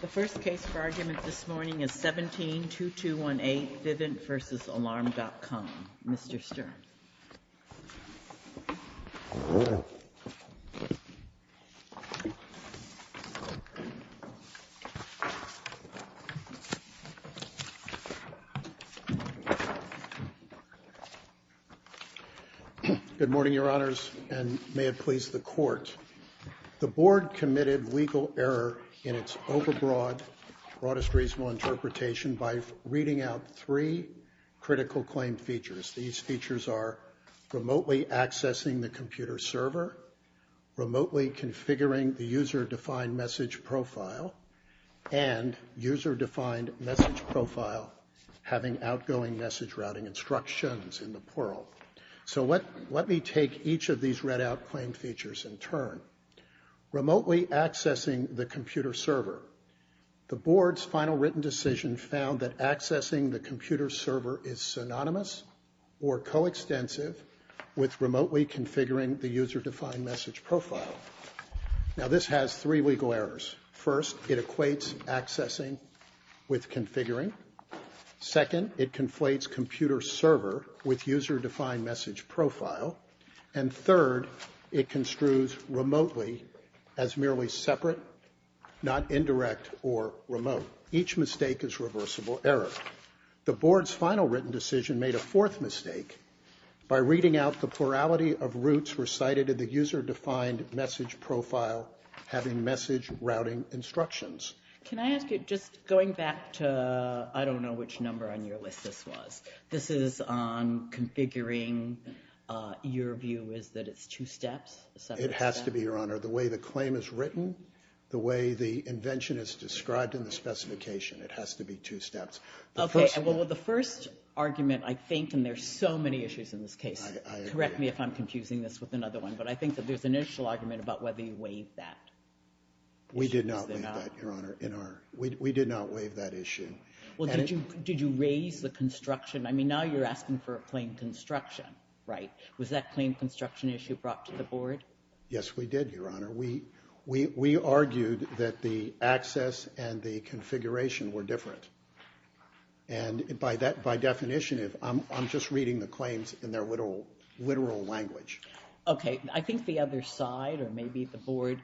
The first case for argument this morning is 17-2218, Vivint v. Alarm.com. Mr. Stern. Good morning, Your Honors, and may it please the Court. The Board committed legal error in its overbroad, broadest reasonable interpretation by reading out three critical claim features. These features are remotely accessing the computer server, remotely configuring the user-defined message profile, and user-defined message profile having outgoing message routing instructions in the plural. So let me take each of these read-out claim features in turn. Remotely accessing the computer server. The Board's final written decision found that accessing the computer server is synonymous or coextensive with remotely configuring the user-defined message profile. Now this has three legal errors. First, it equates accessing with configuring. Second, it conflates computer server with user-defined message profile. And third, it construes remotely as merely separate, not indirect or remote. Each mistake is reversible error. The Board's final written decision made a fourth mistake by reading out the plurality of routes recited in the user-defined message profile having message routing instructions. Can I ask you, just going back to, I don't know which number on your list this was. This is on configuring. Your view is that it's two steps? It has to be, Your Honor. The way the claim is written, the way the invention is described in the specification, it has to be two steps. Okay, well the first argument I think, and there's so many issues in this case, correct me if I'm confusing this with another one, but I think that there's an initial argument about whether you waived that. We did not waive that, Your Honor. We did not waive that issue. Well, did you raise the construction? I mean, now you're asking for a claim construction, right? Was that claim construction issue brought to the Board? Yes, we did, Your Honor. We argued that the access and the configuration were different. And by definition, I'm just reading the claims in their literal language. Okay, I think the other side, or maybe the Board,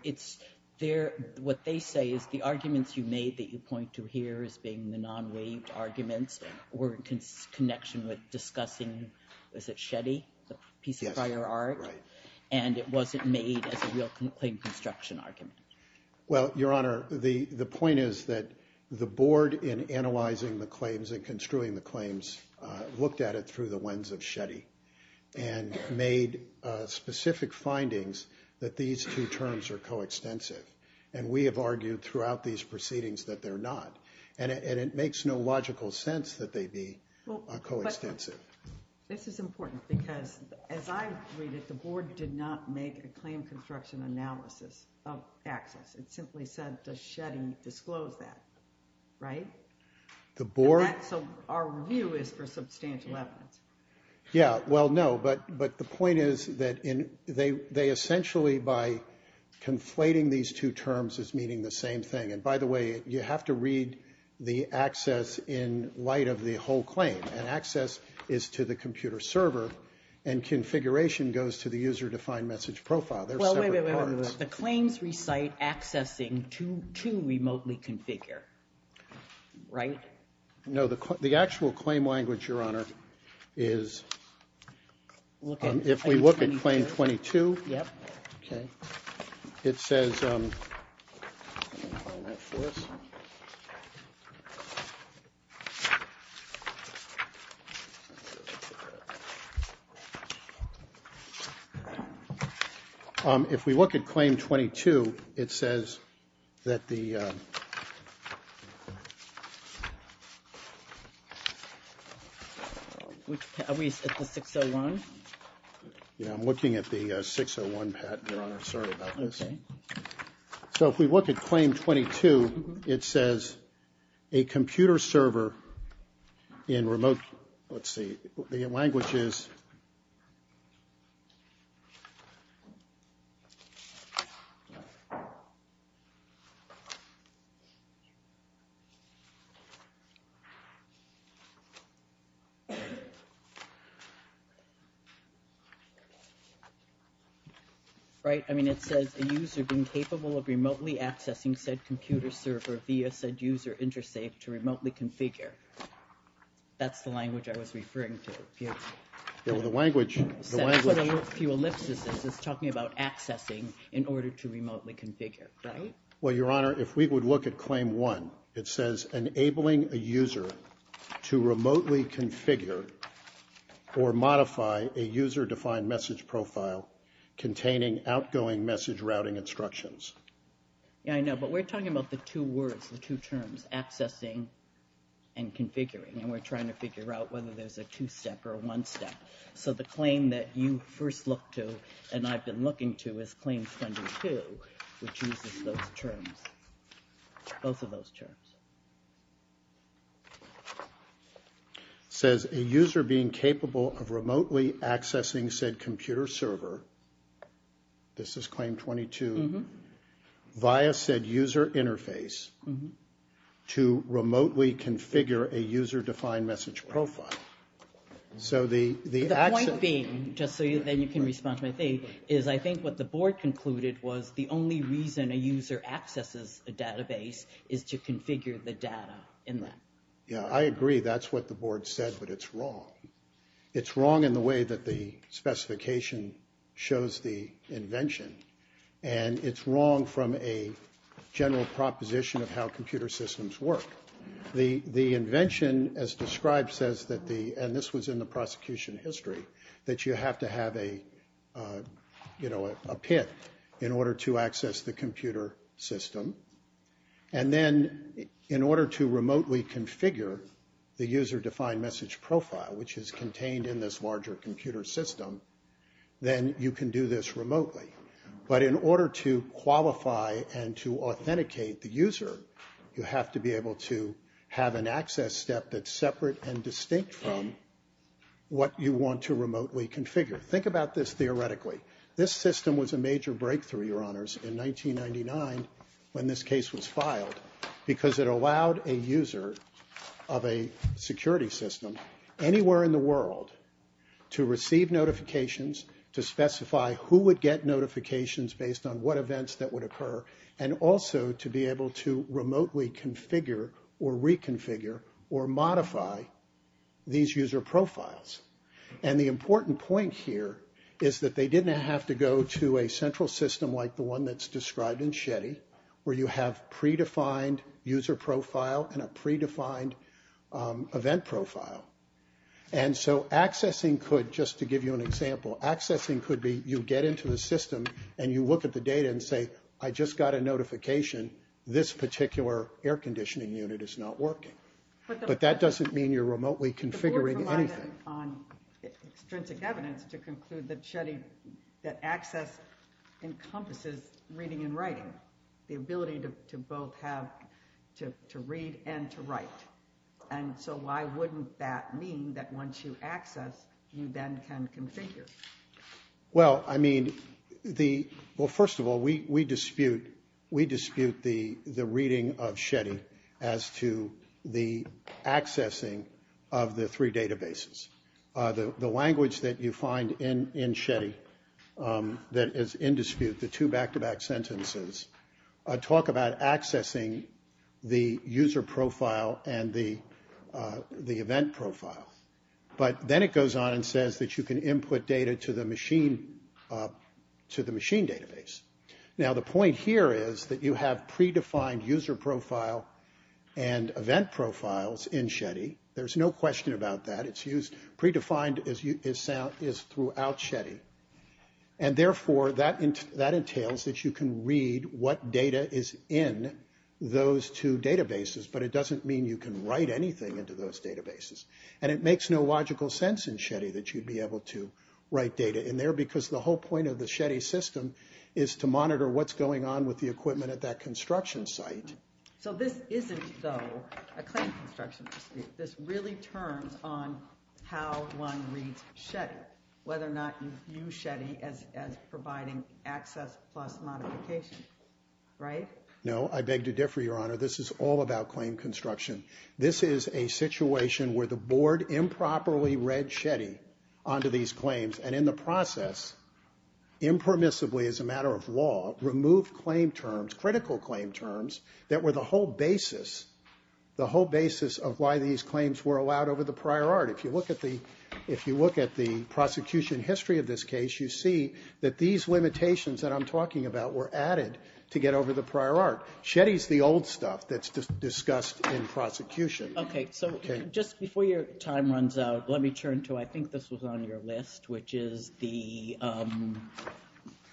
what they say is the arguments you made that you point to here as being the non-waived arguments were in connection with discussing, was it Shetty, the piece of prior art, and it wasn't made as a real claim construction argument. Well, Your Honor, the point is that the Board in analyzing the claims and construing the claims looked at it through the lens of Shetty and made specific findings that these two terms are coextensive. And we have argued throughout these proceedings that they're not. And it makes no logical sense that they be coextensive. This is important because, as I read it, the Board did not make a claim construction analysis of access. It simply said, does Shetty disclose that, right? The Board... So our review is for substantial evidence. Yeah, well, no. But the point is that they essentially, by conflating these two terms, is meaning the same thing. And by the way, you have to read the access in light of the whole claim. And access is to the computer server, and configuration goes to the user-defined message profile. They're separate parts. Well, wait, wait, wait. The claims recite accessing to remotely configure, right? No, the actual claim language, Your Honor, is... If we look at Claim 22, it says... Are we at the 601? Yeah, I'm looking at the 601, Pat, Your Honor. Sorry about this. Okay. So if we look at Claim 22, it says, a computer server in remote... Let's see. The language is... Right? I mean, it says, a user being capable of remotely accessing said computer server via said user intersafe to remotely configure. That's the language I was referring to, if you have... Yeah, well, the language... The language... That's what a few ellipses is. It's talking about accessing in order to remotely configure, right? Well, Your Honor, if we would look at Claim 1, it says, enabling a user to remotely configure or modify a user-defined message profile containing outgoing message routing instructions. Yeah, I know, but we're talking about the two words, the two terms, accessing and configuring, and we're trying to figure out whether there's a two-step or a one-step. So the claim that you first look to and I've been looking to is Claim 22, which uses those terms, both of those terms. It says, a user being capable of remotely accessing said computer server, this is Claim 22, via said user interface to remotely configure a user-defined message profile. So the... The point being, just so then you can respond to my thing, is I think what the board concluded was the only reason a user accesses a database is to configure the data in that. Yeah, I agree. That's what the board said, but it's wrong. It's wrong in the way that the specification shows the invention, and it's wrong from a general proposition of how computer systems work. The invention, as described, says that the, and this was in the prosecution history, that you have to have a, you know, a PIT in order to access the computer system, and then in order to remotely configure the user-defined message profile, which is contained in this larger computer system, then you can do this remotely. But in order to qualify and to authenticate the user, you have to be able to have an access step that's separate and distinct from what you want to remotely configure. Think about this theoretically. This system was a major breakthrough, Your Honors, in 1999 when this case was filed, because it allowed a user of a security system anywhere in the world to receive notifications, to specify who would get notifications based on what events that would occur, and also to be able to remotely configure or reconfigure or modify these user profiles. And the important point here is that they didn't have to go to a central system like the one that's described in Shetty, where you have predefined user profile and a predefined event profile. And so accessing could, just to give you an example, accessing could be you get into the system and you look at the data and say, I just got a notification. This particular air conditioning unit is not working. But that doesn't mean you're remotely configuring anything. The board relied on extrinsic evidence to conclude that Shetty, that access encompasses reading and writing, the ability to both have, to read and to write. And so why wouldn't that mean that once you access, you then can configure? Well, I mean, first of all, we dispute the reading of Shetty as to the accessing of the three databases. The language that you find in Shetty that is in dispute, the two back-to-back sentences, talk about accessing the user profile and the event profile. But then it goes on and says that you can input data to the machine database. Now, the point here is that you have predefined user profile and event profiles in Shetty. There's no question about that. It's used, predefined is throughout Shetty. And therefore, that entails that you can read what data is in those two databases. But it doesn't mean you can write anything into those databases. And it makes no logical sense in Shetty that you'd be able to write data in there because the whole point of the Shetty system is to monitor what's going on with the equipment at that construction site. So this isn't, though, a claim construction dispute. This really turns on how one reads Shetty, whether or not you view Shetty as providing access plus modification, right? No, I beg to differ, Your Honor. This is all about claim construction. This is a situation where the board improperly read Shetty onto these claims and in the process impermissibly, as a matter of law, removed claim terms, critical claim terms, that were the whole basis, the whole basis of why these claims were allowed over the prior art. If you look at the prosecution history of this case, you see that these limitations that I'm talking about were added to get over the prior art. Shetty's the old stuff that's discussed in prosecution. Okay, so just before your time runs out, let me turn to, I think this was on your list, which is the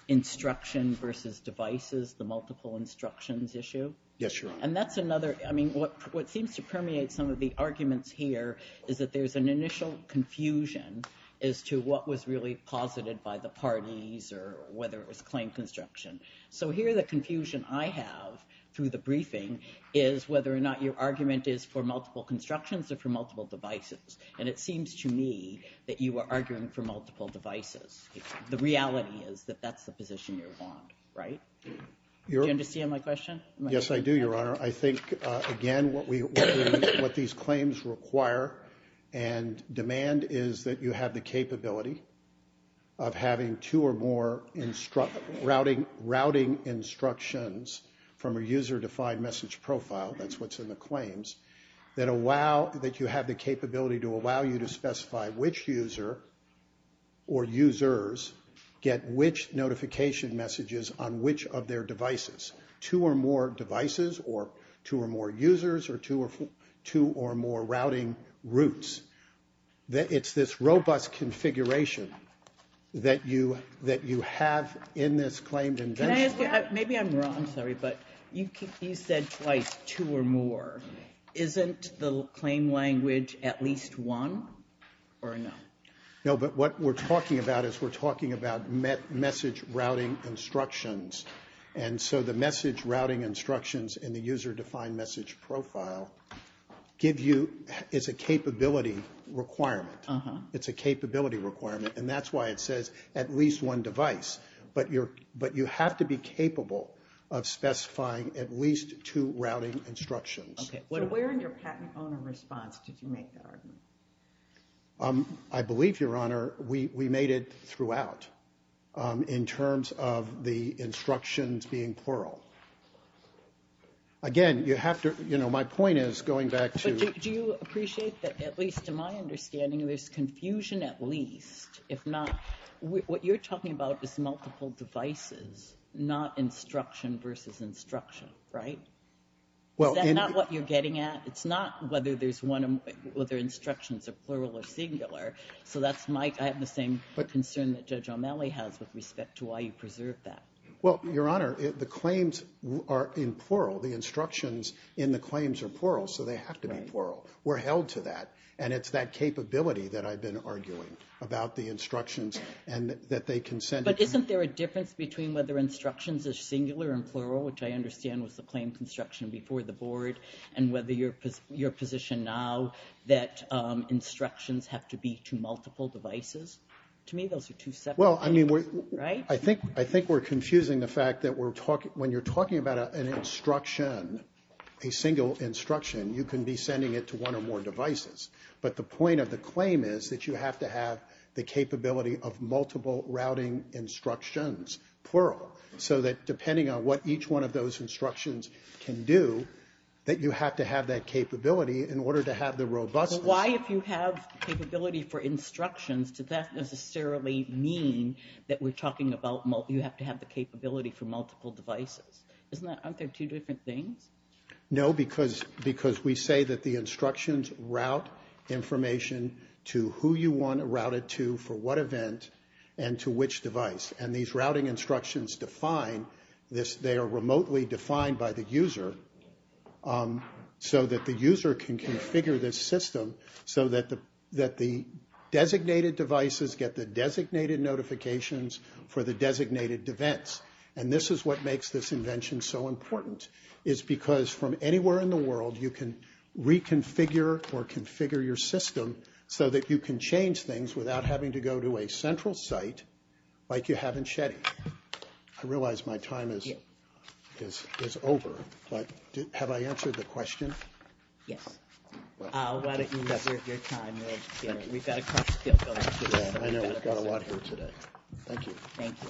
instruction versus devices, the multiple instructions issue. Yes, Your Honor. And that's another, I mean, what seems to permeate some of the arguments here is that there's an initial confusion as to what was really posited by the parties or whether it was claim construction. So here the confusion I have through the briefing is whether or not your argument is for multiple constructions or for multiple devices. And it seems to me that you are arguing for multiple devices. The reality is that that's the position you're on, right? Do you understand my question? Yes, I do, Your Honor. I think, again, what these claims require and demand is that you have the capability of having two or more routing instructions from a user-defined message profile, that's what's in the claims, that you have the capability to allow you to specify which user or users get which notification messages on which of their devices, two or more devices or two or more users or two or more routing routes. It's this robust configuration that you have in this claimed invention. Maybe I'm wrong, sorry, but you said twice, two or more. Isn't the claim language at least one or no? No, but what we're talking about is we're talking about message routing instructions. And so the message routing instructions in the user-defined message profile is a capability requirement. It's a capability requirement, and that's why it says at least one device. But you have to be capable of specifying at least two routing instructions. Okay, so where in your patent owner response did you make that argument? I believe, Your Honor, we made it throughout in terms of the instructions being plural. Again, you have to, you know, my point is going back to... But do you appreciate that, at least to my understanding, there's confusion at least? If not, what you're talking about is multiple devices, not instruction versus instruction, right? Is that not what you're getting at? It's not whether there's one, whether instructions are plural or singular. So that's my, I have the same concern that Judge O'Malley has with respect to why you preserve that. Well, Your Honor, the claims are in plural. The instructions in the claims are plural, so they have to be plural. We're held to that, and it's that capability that I've been arguing about the instructions and that they can send... But isn't there a difference between whether instructions are singular and plural, which I understand was the claim construction before the board, and whether your position now that instructions have to be to multiple devices? To me, those are two separate things, right? Well, I mean, I think we're confusing the fact that when you're talking about an instruction, a single instruction, you can be sending it to one or more devices. But the point of the claim is that you have to have the capability of multiple routing instructions, plural, so that depending on what each one of those instructions can do, that you have to have that capability in order to have the robustness. But why, if you have capability for instructions, does that necessarily mean that we're talking about you have to have the capability for multiple devices? Isn't that, aren't there two different things? No, because we say that the instructions route information to who you want to route it to, for what event, and to which device. And these routing instructions define this. They are remotely defined by the user so that the user can configure this system so that the designated devices get the designated notifications for the designated events. And this is what makes this invention so important, is because from anywhere in the world you can reconfigure or configure your system so that you can change things without having to go to a central site like you have in Sheddy. I realize my time is over, but have I answered the question? Yes. Why don't you reserve your time. We've got a lot here today. Thank you. Thank you.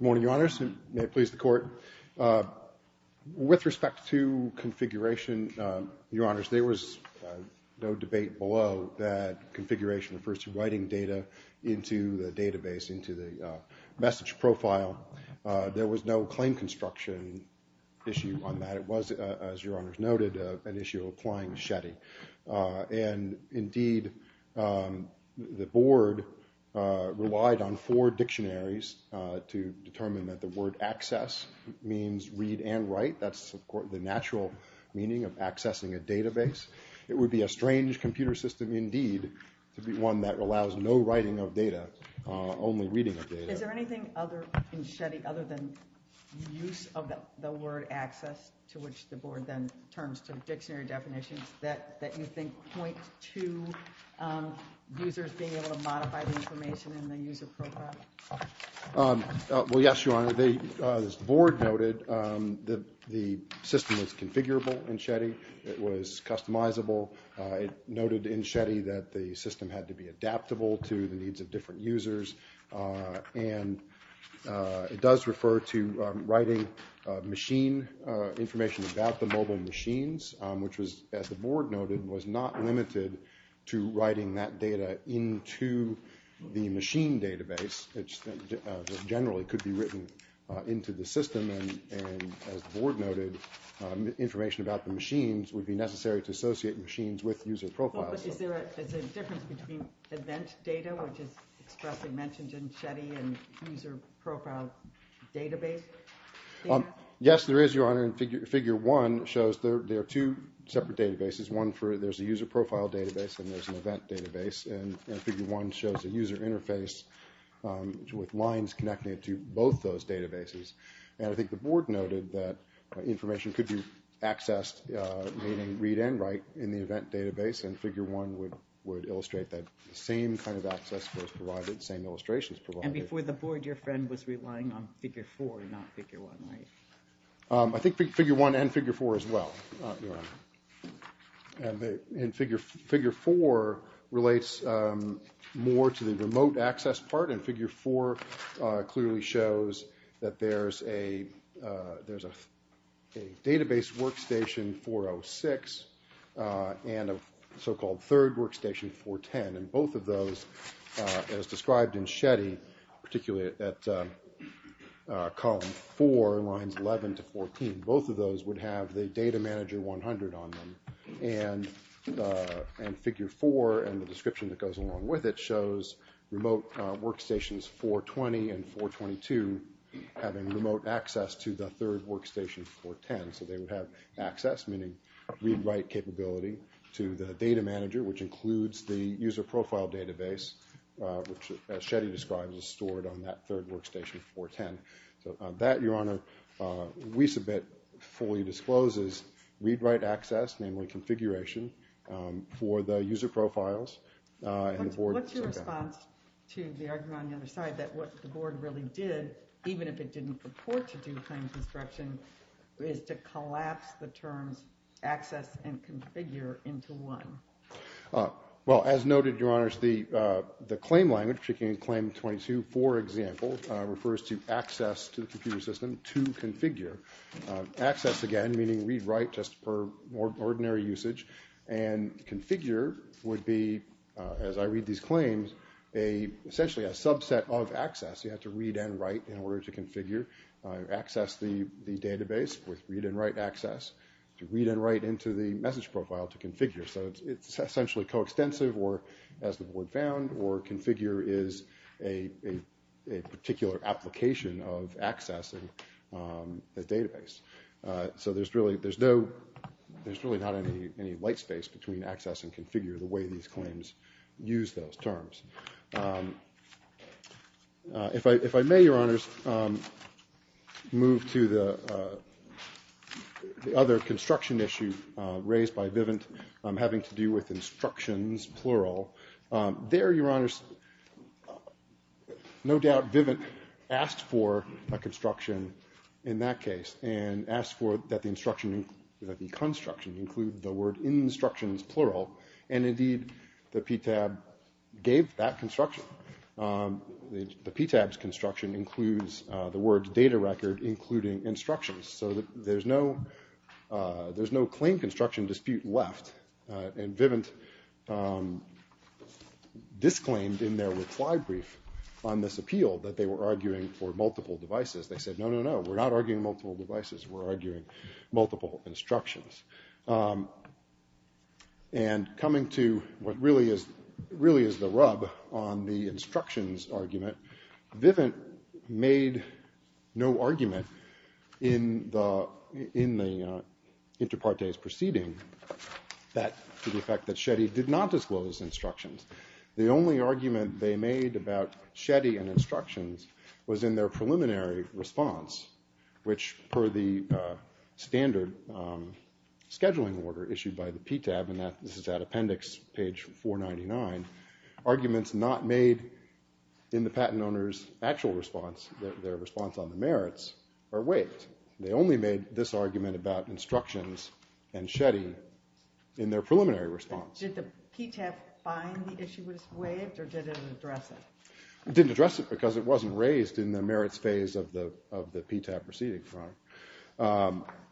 Good morning, Your Honors, and may it please the Court. With respect to configuration, Your Honors, there was no debate below that configuration refers to writing data into the database, into the message profile. There was no claim construction issue on that. It was, as Your Honors noted, an issue applying to Sheddy. Indeed, the Board relied on four dictionaries to determine that the word access means read and write. That's the natural meaning of accessing a database. It would be a strange computer system indeed to be one that allows no writing of data, only reading of data. Is there anything in Sheddy other than the use of the word access, to which the Board then turns to dictionary definitions, that you think point to users being able to modify the information in the user profile? Well, yes, Your Honor. As the Board noted, the system was configurable in Sheddy. It was customizable. It noted in Sheddy that the system had to be adaptable to the needs of different users, and it does refer to writing machine information about the mobile machines, which was, as the Board noted, was not limited to writing that data into the machine database. It generally could be written into the system, and as the Board noted, information about the machines would be necessary to associate machines with user profiles. Is there a difference between event data, which is expressed and mentioned in Sheddy, and user profile database data? Yes, there is, Your Honor, and Figure 1 shows there are two separate databases, one for there's a user profile database and there's an event database, and Figure 1 shows a user interface with lines connecting it to both those databases. And I think the Board noted that information could be accessed, meaning read and write, in the event database, and Figure 1 would illustrate that same kind of access was provided, same illustrations provided. And before the Board, your friend was relying on Figure 4, not Figure 1, right? I think Figure 1 and Figure 4 as well, Your Honor. And Figure 4 relates more to the remote access part, and Figure 4 clearly shows that there's a database workstation 406 and a so-called third workstation 410, and both of those, as described in Sheddy, particularly at column 4, lines 11 to 14, both of those would have the data manager 100 on them. And Figure 4 and the description that goes along with it shows remote workstations 420 and 422 having remote access to the third workstation 410, so they would have access, meaning read-write capability, to the data manager, which includes the user profile database, which, as Sheddy describes, is stored on that third workstation 410. So that, Your Honor, we submit fully discloses read-write access, namely configuration, for the user profiles. What's your response to the argument on the other side that what the Board really did, even if it didn't purport to do claims instruction, is to collapse the terms access and configure into one? Well, as noted, Your Honors, the claim language, checking claim 22, for example, refers to access to the computer system to configure. Access, again, meaning read-write just for ordinary usage, and configure would be, as I read these claims, essentially a subset of access. You have to read and write in order to configure, access the database with read and write access, to read and write into the message profile to configure. So it's essentially coextensive, or as the Board found, or configure is a particular application of accessing the database. So there's really not any light space between access and configure, the way these claims use those terms. If I may, Your Honors, move to the other construction issue raised by Vivint. Having to do with instructions, plural. There, Your Honors, no doubt Vivint asked for a construction in that case, and asked for that the construction include the word instructions, plural. And indeed, the PTAB gave that construction. The PTAB's construction includes the word data record, including instructions. So there's no claim construction dispute left, and Vivint disclaimed in their reply brief on this appeal that they were arguing for multiple devices. They said, no, no, no, we're not arguing multiple devices, we're arguing multiple instructions. And coming to what really is the rub on the instructions argument, Vivint made no argument in the inter partes proceeding to the effect that Shetty did not disclose instructions. The only argument they made about Shetty and instructions was in their preliminary response, which per the standard scheduling order issued by the PTAB, and this is at appendix page 499, arguments not made in the patent owner's actual response, their response on the merits, are waived. They only made this argument about instructions and Shetty in their preliminary response. Did the PTAB find the issue was waived, or did it address it? It didn't address it because it wasn't raised in the merits phase of the PTAB proceeding.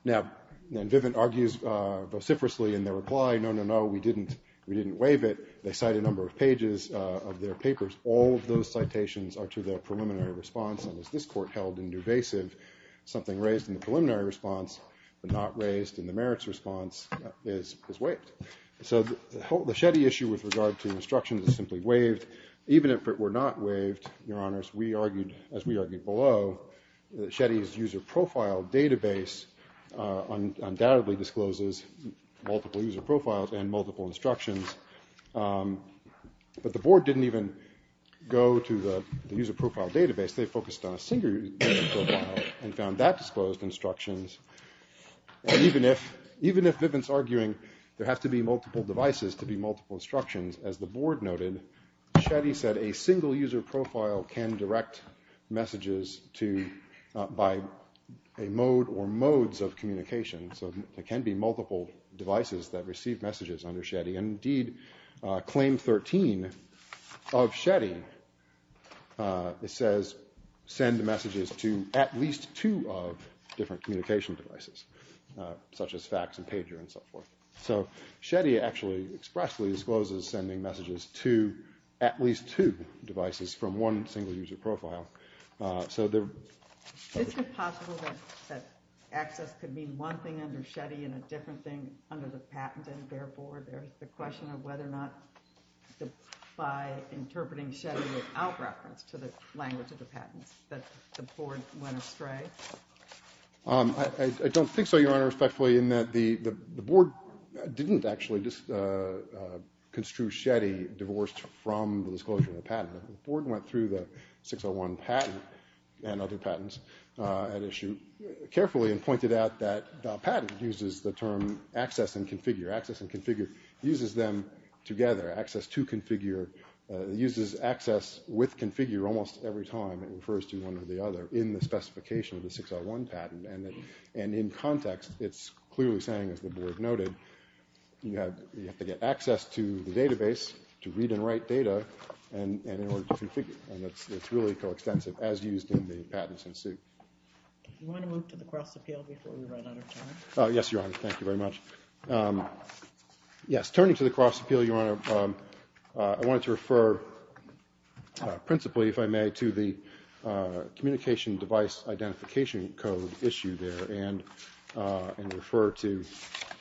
Now, Vivint argues vociferously in their reply, no, no, no, we didn't waive it. They cite a number of pages of their papers. All of those citations are to their preliminary response, and as this court held in duvasive, something raised in the preliminary response but not raised in the merits response is waived. So the Shetty issue with regard to instructions is simply waived, even if it were not waived, Your Honors, as we argued below, Shetty's user profile database undoubtedly discloses multiple user profiles and multiple instructions, but the board didn't even go to the user profile database. They focused on a single user profile and found that disclosed instructions, and even if Vivint's arguing there have to be multiple devices to be multiple instructions, as the board noted, Shetty said a single user profile can direct messages by a mode or modes of communication. So there can be multiple devices that receive messages under Shetty, and indeed Claim 13 of Shetty says send messages to at least two different communication devices, such as fax and pager and so forth. So Shetty actually expressly discloses sending messages to at least two devices from one single user profile. Is it possible that access could mean one thing under Shetty and a different thing under the patent, and therefore there's the question of whether or not by interpreting Shetty without reference to the language of the patent, that the board went astray? I don't think so, Your Honor, respectfully, in that the board didn't actually just construe Shetty divorced from the disclosure of the patent. The board went through the 601 patent and other patents at issue carefully and pointed out that the patent uses the term access and configure. Access and configure uses them together. Access to configure uses access with configure almost every time it refers to one or the other in the specification of the 601 patent, and in context it's clearly saying, as the board noted, you have to get access to the database to read and write data, and it's really coextensive as used in the patents in suit. Do you want to move to the cross appeal before we run out of time? Yes, Your Honor, thank you very much. Yes, turning to the cross appeal, Your Honor, I wanted to refer principally, if I may, to the communication device identification code issue there and refer to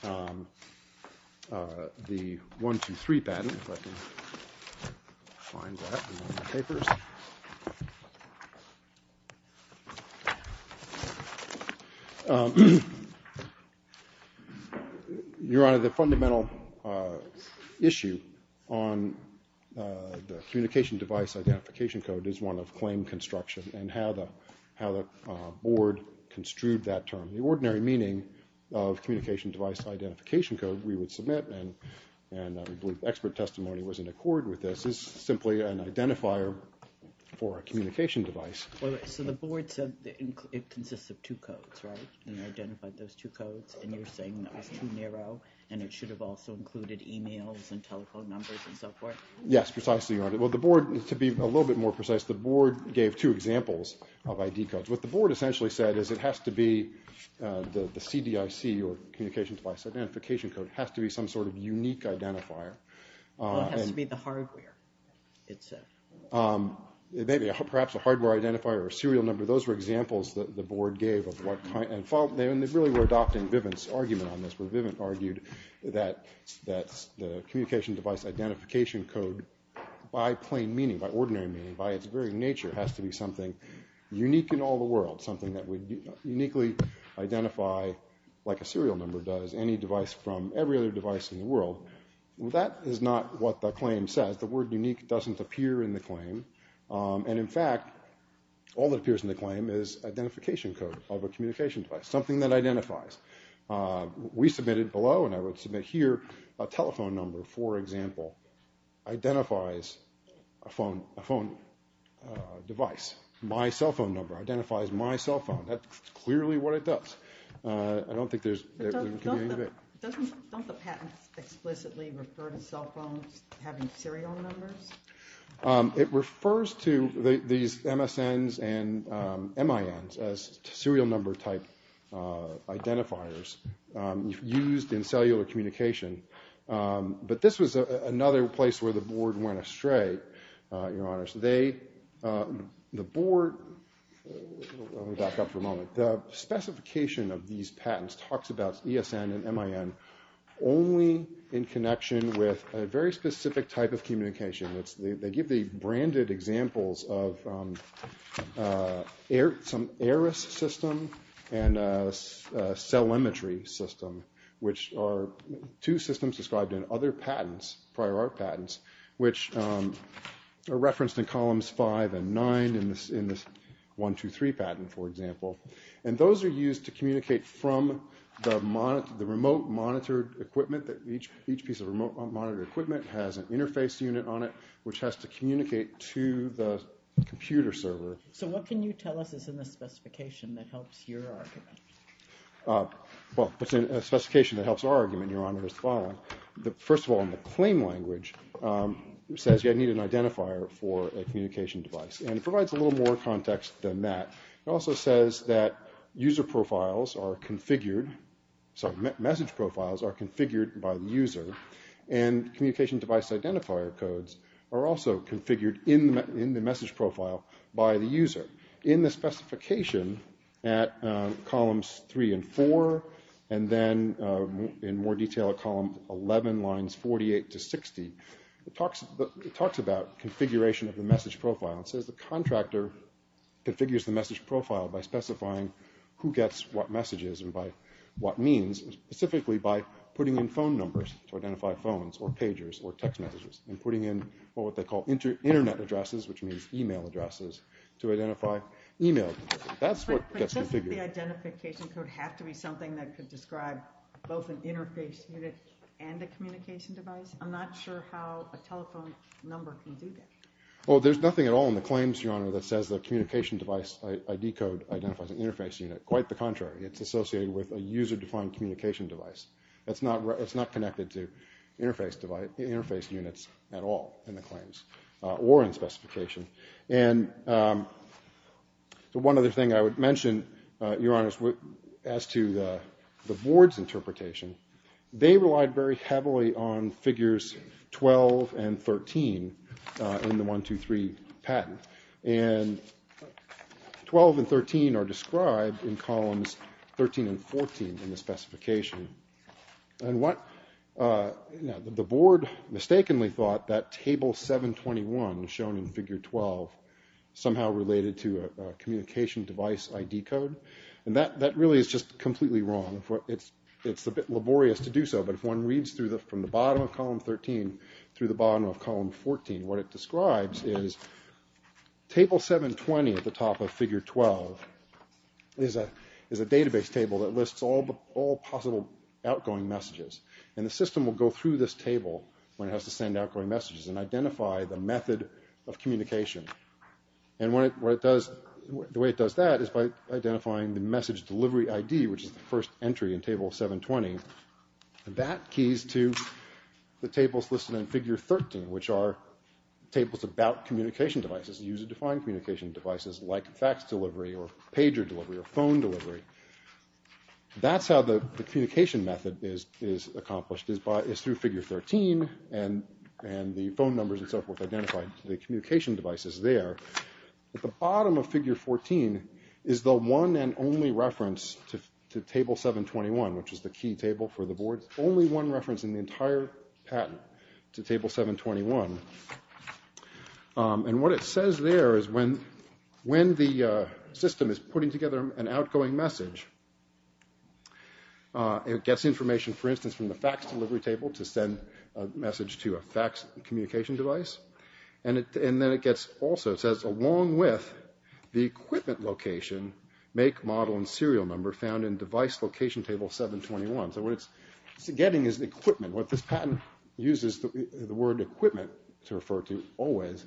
the 123 patent. Let me see if I can find that in one of the papers. Your Honor, the fundamental issue on the communication device identification code is one of claim construction and how the board construed that term. The ordinary meaning of communication device identification code we would submit and we believe expert testimony was in accord with this, is simply an identifier for a communication device. So the board said it consists of two codes, right, and identified those two codes, and you're saying that was too narrow and it should have also included e-mails and telephone numbers and so forth? Yes, precisely, Your Honor. Well, the board, to be a little bit more precise, the board gave two examples of ID codes. What the board essentially said is it has to be the CDIC or communication device identification code. It has to be some sort of unique identifier. It has to be the hardware, it said. Maybe, perhaps a hardware identifier or serial number. Those were examples that the board gave of what kind, and they really were adopting Vivint's argument on this, where Vivint argued that the communication device identification code, by plain meaning, by ordinary meaning, by its very nature, has to be something unique in all the world, something that would uniquely identify, like a serial number does, any device from every other device in the world. Well, that is not what the claim says. The word unique doesn't appear in the claim. And, in fact, all that appears in the claim is identification code of a communication device, something that identifies. We submitted below, and I would submit here, a telephone number, for example, identifies a phone device. My cell phone number identifies my cell phone. That's clearly what it does. I don't think there's any debate. But don't the patents explicitly refer to cell phones having serial numbers? It refers to these MSNs and MINs as serial number type identifiers used in cellular communication. But this was another place where the board went astray, Your Honor. The board, let me back up for a moment. The specification of these patents talks about ESN and MIN only in connection with a very specific type of communication. They give the branded examples of some ERAS system and a cellimetry system, which are two systems described in other patents, prior art patents, which are referenced in columns 5 and 9 in this 123 patent, for example. And those are used to communicate from the remote monitored equipment. Each piece of remote monitored equipment has an interface unit on it, which has to communicate to the computer server. So what can you tell us is in the specification that helps your argument? Well, a specification that helps our argument, Your Honor, is the following. First of all, in the claim language, it says you need an identifier for a communication device. And it provides a little more context than that. It also says that user profiles are configured, sorry, message profiles are configured by the user, and communication device identifier codes are also configured in the message profile by the user. In the specification at columns 3 and 4, and then in more detail at column 11, lines 48 to 60, it talks about configuration of the message profile. It says the contractor configures the message profile by specifying who gets what messages and by what means, specifically by putting in phone numbers to identify phones or pagers or text messages, and putting in what they call internet addresses, which means e-mail addresses, to identify e-mail. That's what gets configured. But doesn't the identification code have to be something that could describe both an interface unit and a communication device? I'm not sure how a telephone number can do that. Well, there's nothing at all in the claims, Your Honor, that says the communication device ID code identifies an interface unit. Quite the contrary. It's associated with a user-defined communication device. It's not connected to interface units at all in the claims or in the specification. And one other thing I would mention, Your Honor, as to the board's interpretation, they relied very heavily on figures 12 and 13 in the 123 patent. And 12 and 13 are described in columns 13 and 14 in the specification. The board mistakenly thought that table 721, shown in figure 12, somehow related to a communication device ID code. And that really is just completely wrong. It's a bit laborious to do so, but if one reads from the bottom of column 13 through the bottom of column 14, what it describes is table 720 at the top of figure 12 is a database table that lists all possible outgoing messages. And the system will go through this table when it has to send outgoing messages and identify the method of communication. And the way it does that is by identifying the message delivery ID, which is the first entry in table 720. And that keys to the tables listed in figure 13, which are tables about communication devices, user-defined communication devices like fax delivery or pager delivery or phone delivery. That's how the communication method is accomplished, is through figure 13, and the phone numbers and so forth identified to the communication devices there. At the bottom of figure 14 is the one and only reference to table 721, which is the key table for the board. Only one reference in the entire patent to table 721. And what it says there is when the system is putting together an outgoing message, it gets information, for instance, from the fax delivery table to send a message to a fax communication device. And then it gets also, it says, along with the equipment location, make, model, and serial number found in device location table 721. So what it's getting is equipment. What this patent uses the word equipment to refer to always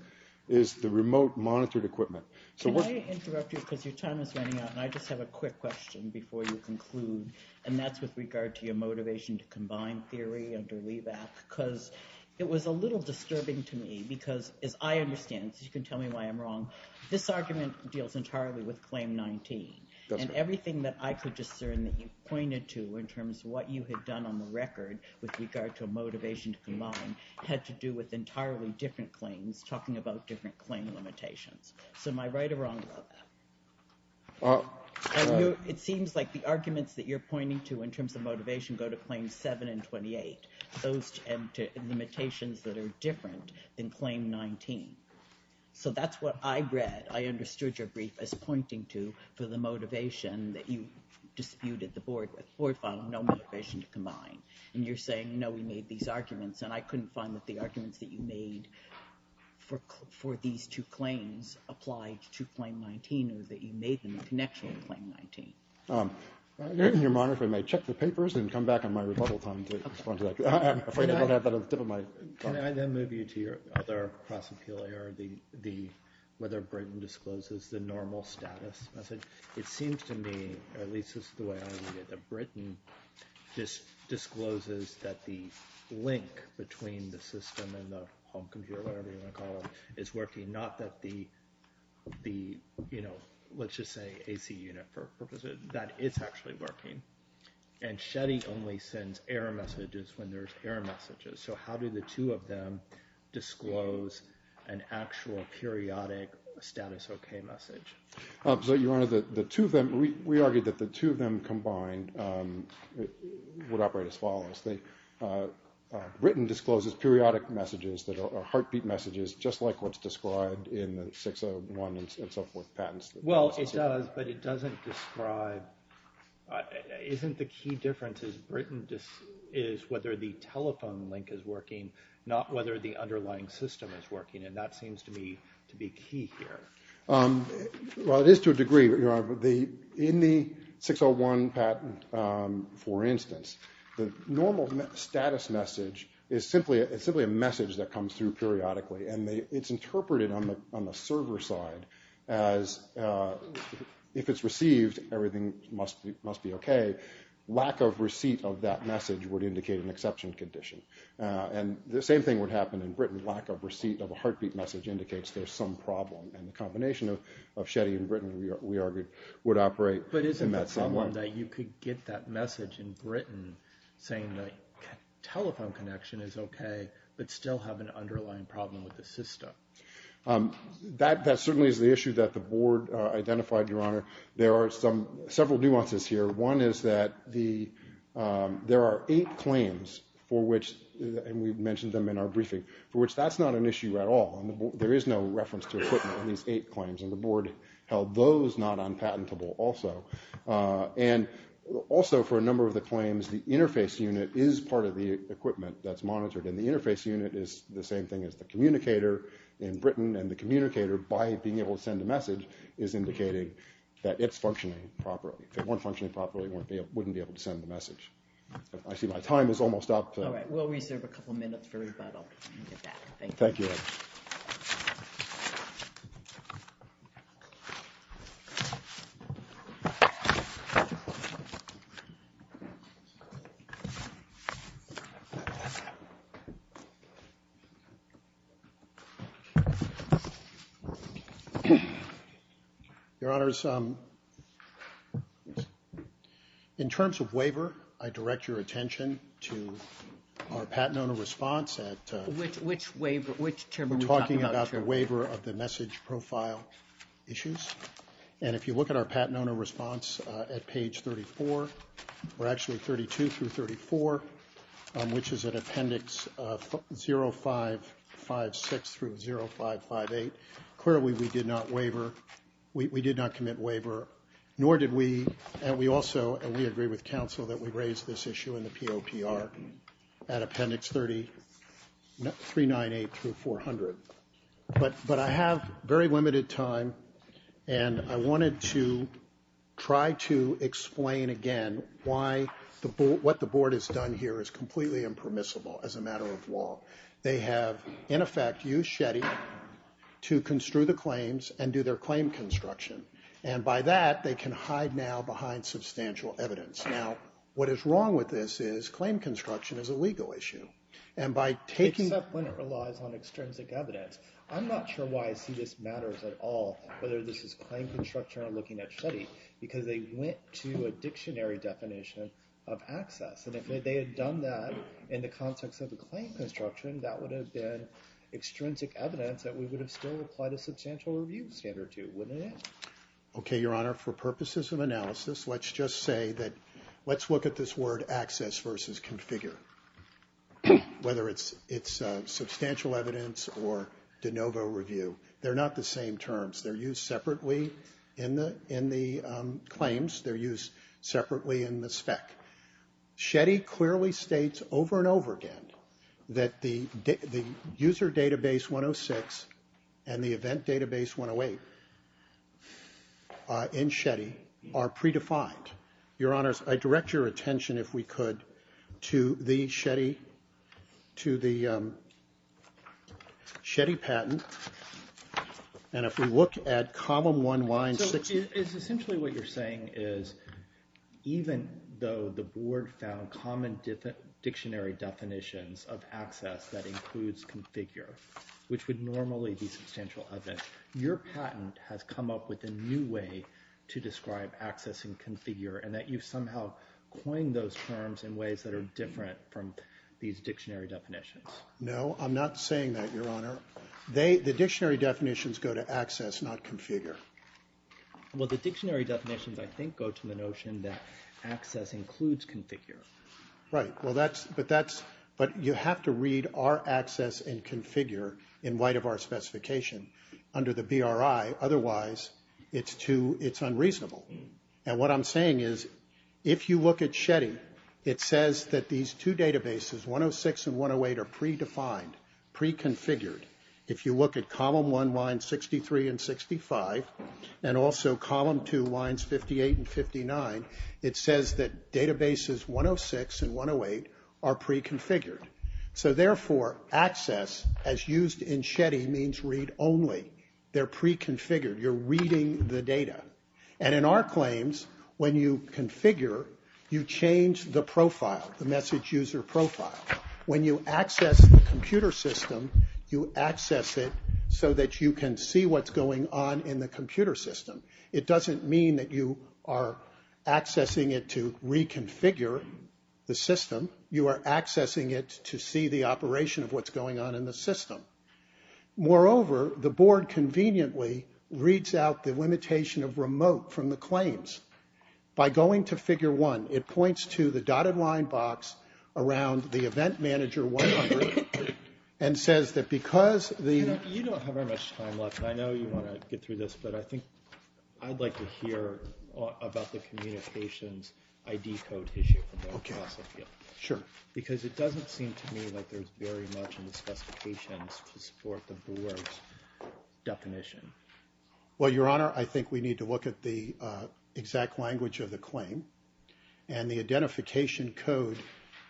is the remote monitored equipment. Can I interrupt you because your time is running out, and I just have a quick question before you conclude, and that's with regard to your motivation to combine theory and to leave that, because it was a little disturbing to me because, as I understand, so you can tell me why I'm wrong, this argument deals entirely with claim 19. And everything that I could discern that you pointed to in terms of what you had done on the record with regard to a motivation to combine had to do with entirely different claims talking about different claim limitations. So am I right or wrong about that? It seems like the arguments that you're pointing to in terms of motivation go to claims 7 and 28, those limitations that are different than claim 19. So that's what I read. I understood your brief as pointing to for the motivation that you disputed the board with. The board found no motivation to combine. And I couldn't find that the arguments that you made for these two claims applied to claim 19, or that you made them a connection to claim 19. Your Honor, if I may, check the papers and come back on my rebuttal time to respond to that. I'm afraid I don't have that at the tip of my tongue. Can I then move you to your other class appeal error, whether Britain discloses the normal status message? It seems to me, or at least this is the way I read it, that Britain just discloses that the link between the system and the home computer, whatever you want to call it, is working, not that the, you know, let's just say AC unit. That it's actually working. And Shetty only sends error messages when there's error messages. So how do the two of them disclose an actual periodic status okay message? Your Honor, the two of them, we argued that the two of them combined would operate as follows. Britain discloses periodic messages that are heartbeat messages, just like what's described in the 601 and so forth patents. Well, it does, but it doesn't describe, isn't the key difference is whether the telephone link is working, not whether the underlying system is working. And that seems to me to be key here. Well, it is to a degree. In the 601 patent, for instance, the normal status message is simply a message that comes through periodically. And it's interpreted on the server side as if it's received, everything must be okay. Lack of receipt of that message would indicate an exception condition. And the same thing would happen in Britain. Lack of receipt of a heartbeat message indicates there's some problem. And the combination of Shetty and Britain, we argued, would operate in that same way. But isn't the problem that you could get that message in Britain saying the telephone connection is okay, but still have an underlying problem with the system? That certainly is the issue that the board identified, Your Honor. There are several nuances here. One is that there are eight claims for which, and we've mentioned them in our briefing, for which that's not an issue at all. There is no reference to equipment in these eight claims, and the board held those not unpatentable also. And also for a number of the claims, the interface unit is part of the equipment that's monitored, and the interface unit is the same thing as the communicator in Britain. And the communicator, by being able to send a message, is indicating that it's functioning properly. If it weren't functioning properly, it wouldn't be able to send the message. I see my time is almost up. All right. We'll reserve a couple minutes for rebuttal. Thank you. Thank you. Your Honors, in terms of waiver, I direct your attention to our Patent Owner Response Act. Which waiver? Which term are we talking about? We're talking about the waiver of the message profile issues. And if you look at our Patent Owner Response at page 34, or actually 32 through 34, which is in Appendix 0556 through 0558, clearly we did not waiver. We did not commit waiver, nor did we. And we also, and we agree with counsel, that we raise this issue in the POPR at Appendix 398 through 400. But I have very limited time, and I wanted to try to explain again why what the Board has done here is completely impermissible as a matter of law. They have, in effect, used Shetty to construe the claims and do their claim construction. And by that, they can hide now behind substantial evidence. Now, what is wrong with this is claim construction is a legal issue. And by taking... Except when it relies on extrinsic evidence. I'm not sure why I see this matters at all, whether this is claim construction or looking at Shetty, because they went to a dictionary definition of access. And if they had done that in the context of a claim construction, that would have been extrinsic evidence that we would have still applied a substantial review standard to. Wouldn't it? Okay, Your Honor. For purposes of analysis, let's just say that... Let's look at this word access versus configure, whether it's substantial evidence or de novo review. They're not the same terms. They're used separately in the claims. They're used separately in the spec. Shetty clearly states over and over again that the user database 106 and the event database 108 in Shetty are predefined. Your Honors, I direct your attention, if we could, to the Shetty patent. And if we look at column one, line six... It is essentially what you're saying is even though the board found common dictionary definitions of access that includes configure, which would normally be substantial evidence, your patent has come up with a new way to describe access and configure and that you've somehow coined those terms in ways that are different from these dictionary definitions. No, I'm not saying that, Your Honor. The dictionary definitions go to access, not configure. Well, the dictionary definitions, I think, go to the notion that access includes configure. Right. But you have to read our access and configure in light of our specification under the BRI. Otherwise, it's unreasonable. And what I'm saying is if you look at Shetty, it says that these two databases, 106 and 108, are predefined, pre-configured. If you look at column one, line 63 and 65, and also column two, lines 58 and 59, it says that databases 106 and 108 are pre-configured. So therefore, access, as used in Shetty, means read only. They're pre-configured. You're reading the data. And in our claims, when you configure, you change the profile, the message user profile. When you access the computer system, you access it so that you can see what's going on in the computer system. It doesn't mean that you are accessing it to reconfigure the system. You are accessing it to see the operation of what's going on in the system. Moreover, the board conveniently reads out the limitation of remote from the claims. By going to figure one, it points to the dotted line box around the event manager 100 and says that because the- You know, you don't have very much time left. I know you want to get through this, but I think I'd like to hear about the communications ID code issue. Okay, sure. Because it doesn't seem to me like there's very much in the specifications to support the board's definition. Well, Your Honor, I think we need to look at the exact language of the claim. And the identification code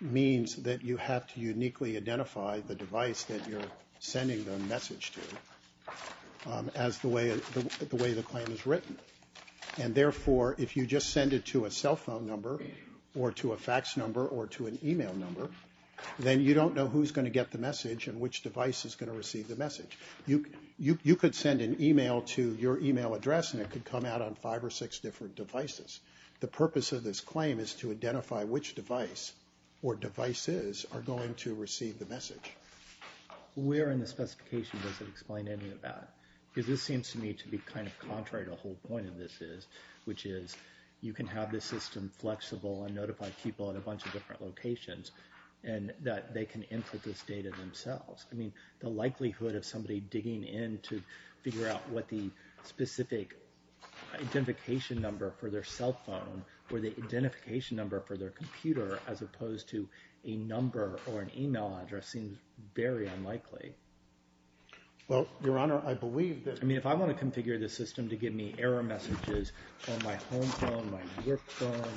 means that you have to uniquely identify the device that you're sending the message to as the way the claim is written. And therefore, if you just send it to a cell phone number or to a fax number or to an e-mail number, then you don't know who's going to get the message and which device is going to receive the message. You could send an e-mail to your e-mail address, and it could come out on five or six different devices. The purpose of this claim is to identify which device or devices are going to receive the message. Where in the specification does it explain any of that? Because this seems to me to be kind of contrary to what the whole point of this is, which is you can have this system flexible and notify people in a bunch of different locations, and that they can input this data themselves. I mean, the likelihood of somebody digging in to figure out what the specific identification number for their cell phone or the identification number for their computer as opposed to a number or an e-mail address seems very unlikely. Well, Your Honor, I believe that— I mean, if I want to configure this system to give me error messages on my home phone, my work phone,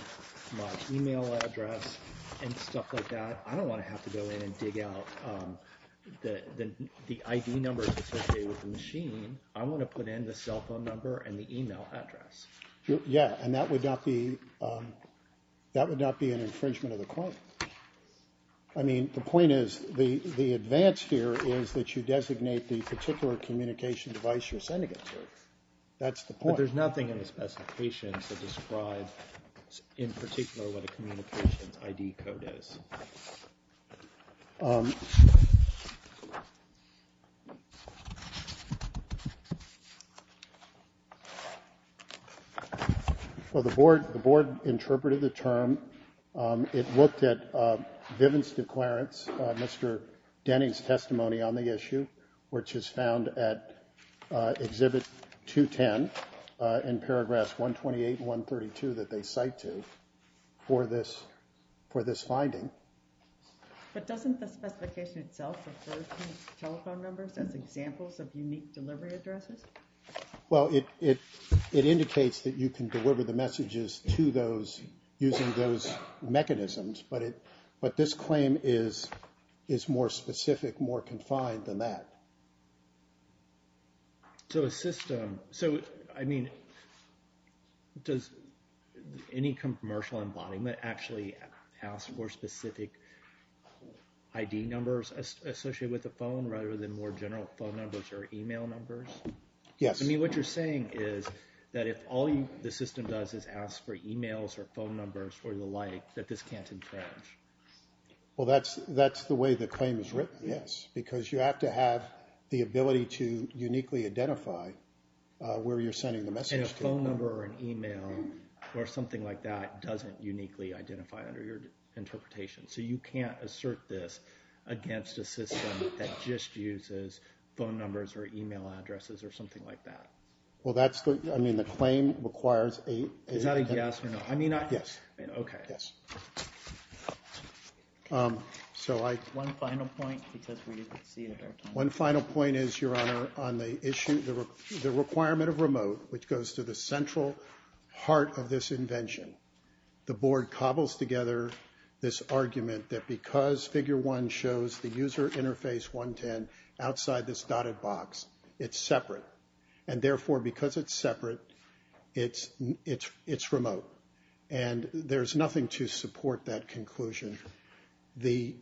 my e-mail address, and stuff like that, I don't want to have to go in and dig out the ID numbers associated with the machine. I want to put in the cell phone number and the e-mail address. Yeah, and that would not be an infringement of the claim. I mean, the point is the advance here is that you designate the particular communication device you're sending it to. That's the point. There's nothing in the specifications that describes in particular what a communications ID code is. Well, the board interpreted the term. It looked at Vivian's declarance, Mr. Denning's testimony on the issue, which is found at Exhibit 210 in Paragraphs 128 and 132 that they cite to for this finding. But doesn't the specification itself refer to telephone numbers as examples of unique delivery addresses? Well, it indicates that you can deliver the messages to those using those mechanisms. But this claim is more specific, more confined than that. So a system – so, I mean, does any commercial embodiment actually ask for specific ID numbers associated with the phone rather than more general phone numbers or e-mail numbers? Yes. I mean, what you're saying is that if all the system does is ask for e-mails or phone numbers or the like, that this can't infringe. Well, that's the way the claim is written, yes, because you have to have the ability to uniquely identify where you're sending the message to. And a phone number or an e-mail or something like that doesn't uniquely identify under your interpretation. So you can't assert this against a system that just uses phone numbers or e-mail addresses or something like that. Well, that's the – I mean, the claim requires a – Is that a yes or no? I mean, I – Yes. Okay. Yes. So I – One final point, because we didn't see it at our time. One final point is, Your Honor, on the issue – the requirement of remote, which goes to the central heart of this invention. The Board cobbles together this argument that because Figure 1 shows the user interface 110 outside this dotted box, it's separate. And therefore, because it's separate, it's remote. And there's nothing to support that conclusion. The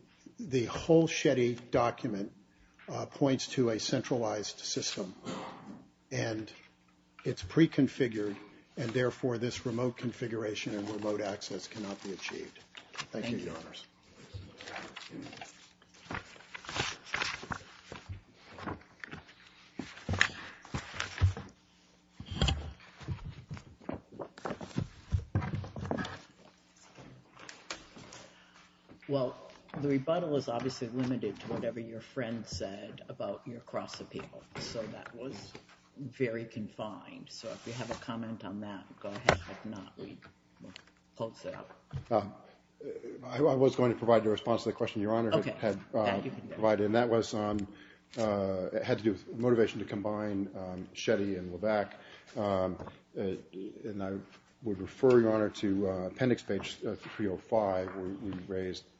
whole Shetty document points to a centralized system, and it's preconfigured, and therefore, this remote configuration and remote access cannot be achieved. Thank you, Your Honors. Thank you. Well, the rebuttal is obviously limited to whatever your friend said about your cross-appeal. So that was very confined. So if you have a comment on that, go ahead. If not, we'll close it up. I was going to provide the response to the question Your Honor had provided, and that was – it had to do with motivation to combine Shetty and Levesque. And I would refer, Your Honor, to appendix page 305, where we raised –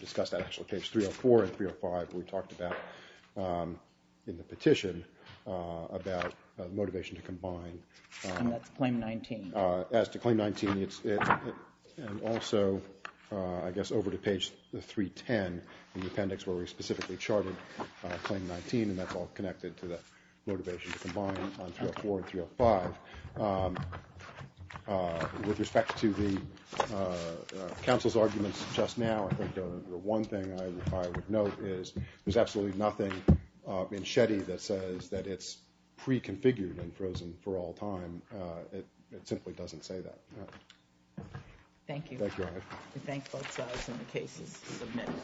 discussed that. Actually, page 304 and 305, we talked about in the petition about motivation to combine. And that's claim 19. As to claim 19, it's – and also, I guess, over to page 310 in the appendix, where we specifically charted claim 19, and that's all connected to the motivation to combine on 304 and 305. With respect to the counsel's arguments just now, I think the one thing I would note is there's absolutely nothing in Shetty that says that it's preconfigured and frozen for all time. It simply doesn't say that. Thank you. Thank you, Your Honor. We thank both sides, and the case is submitted.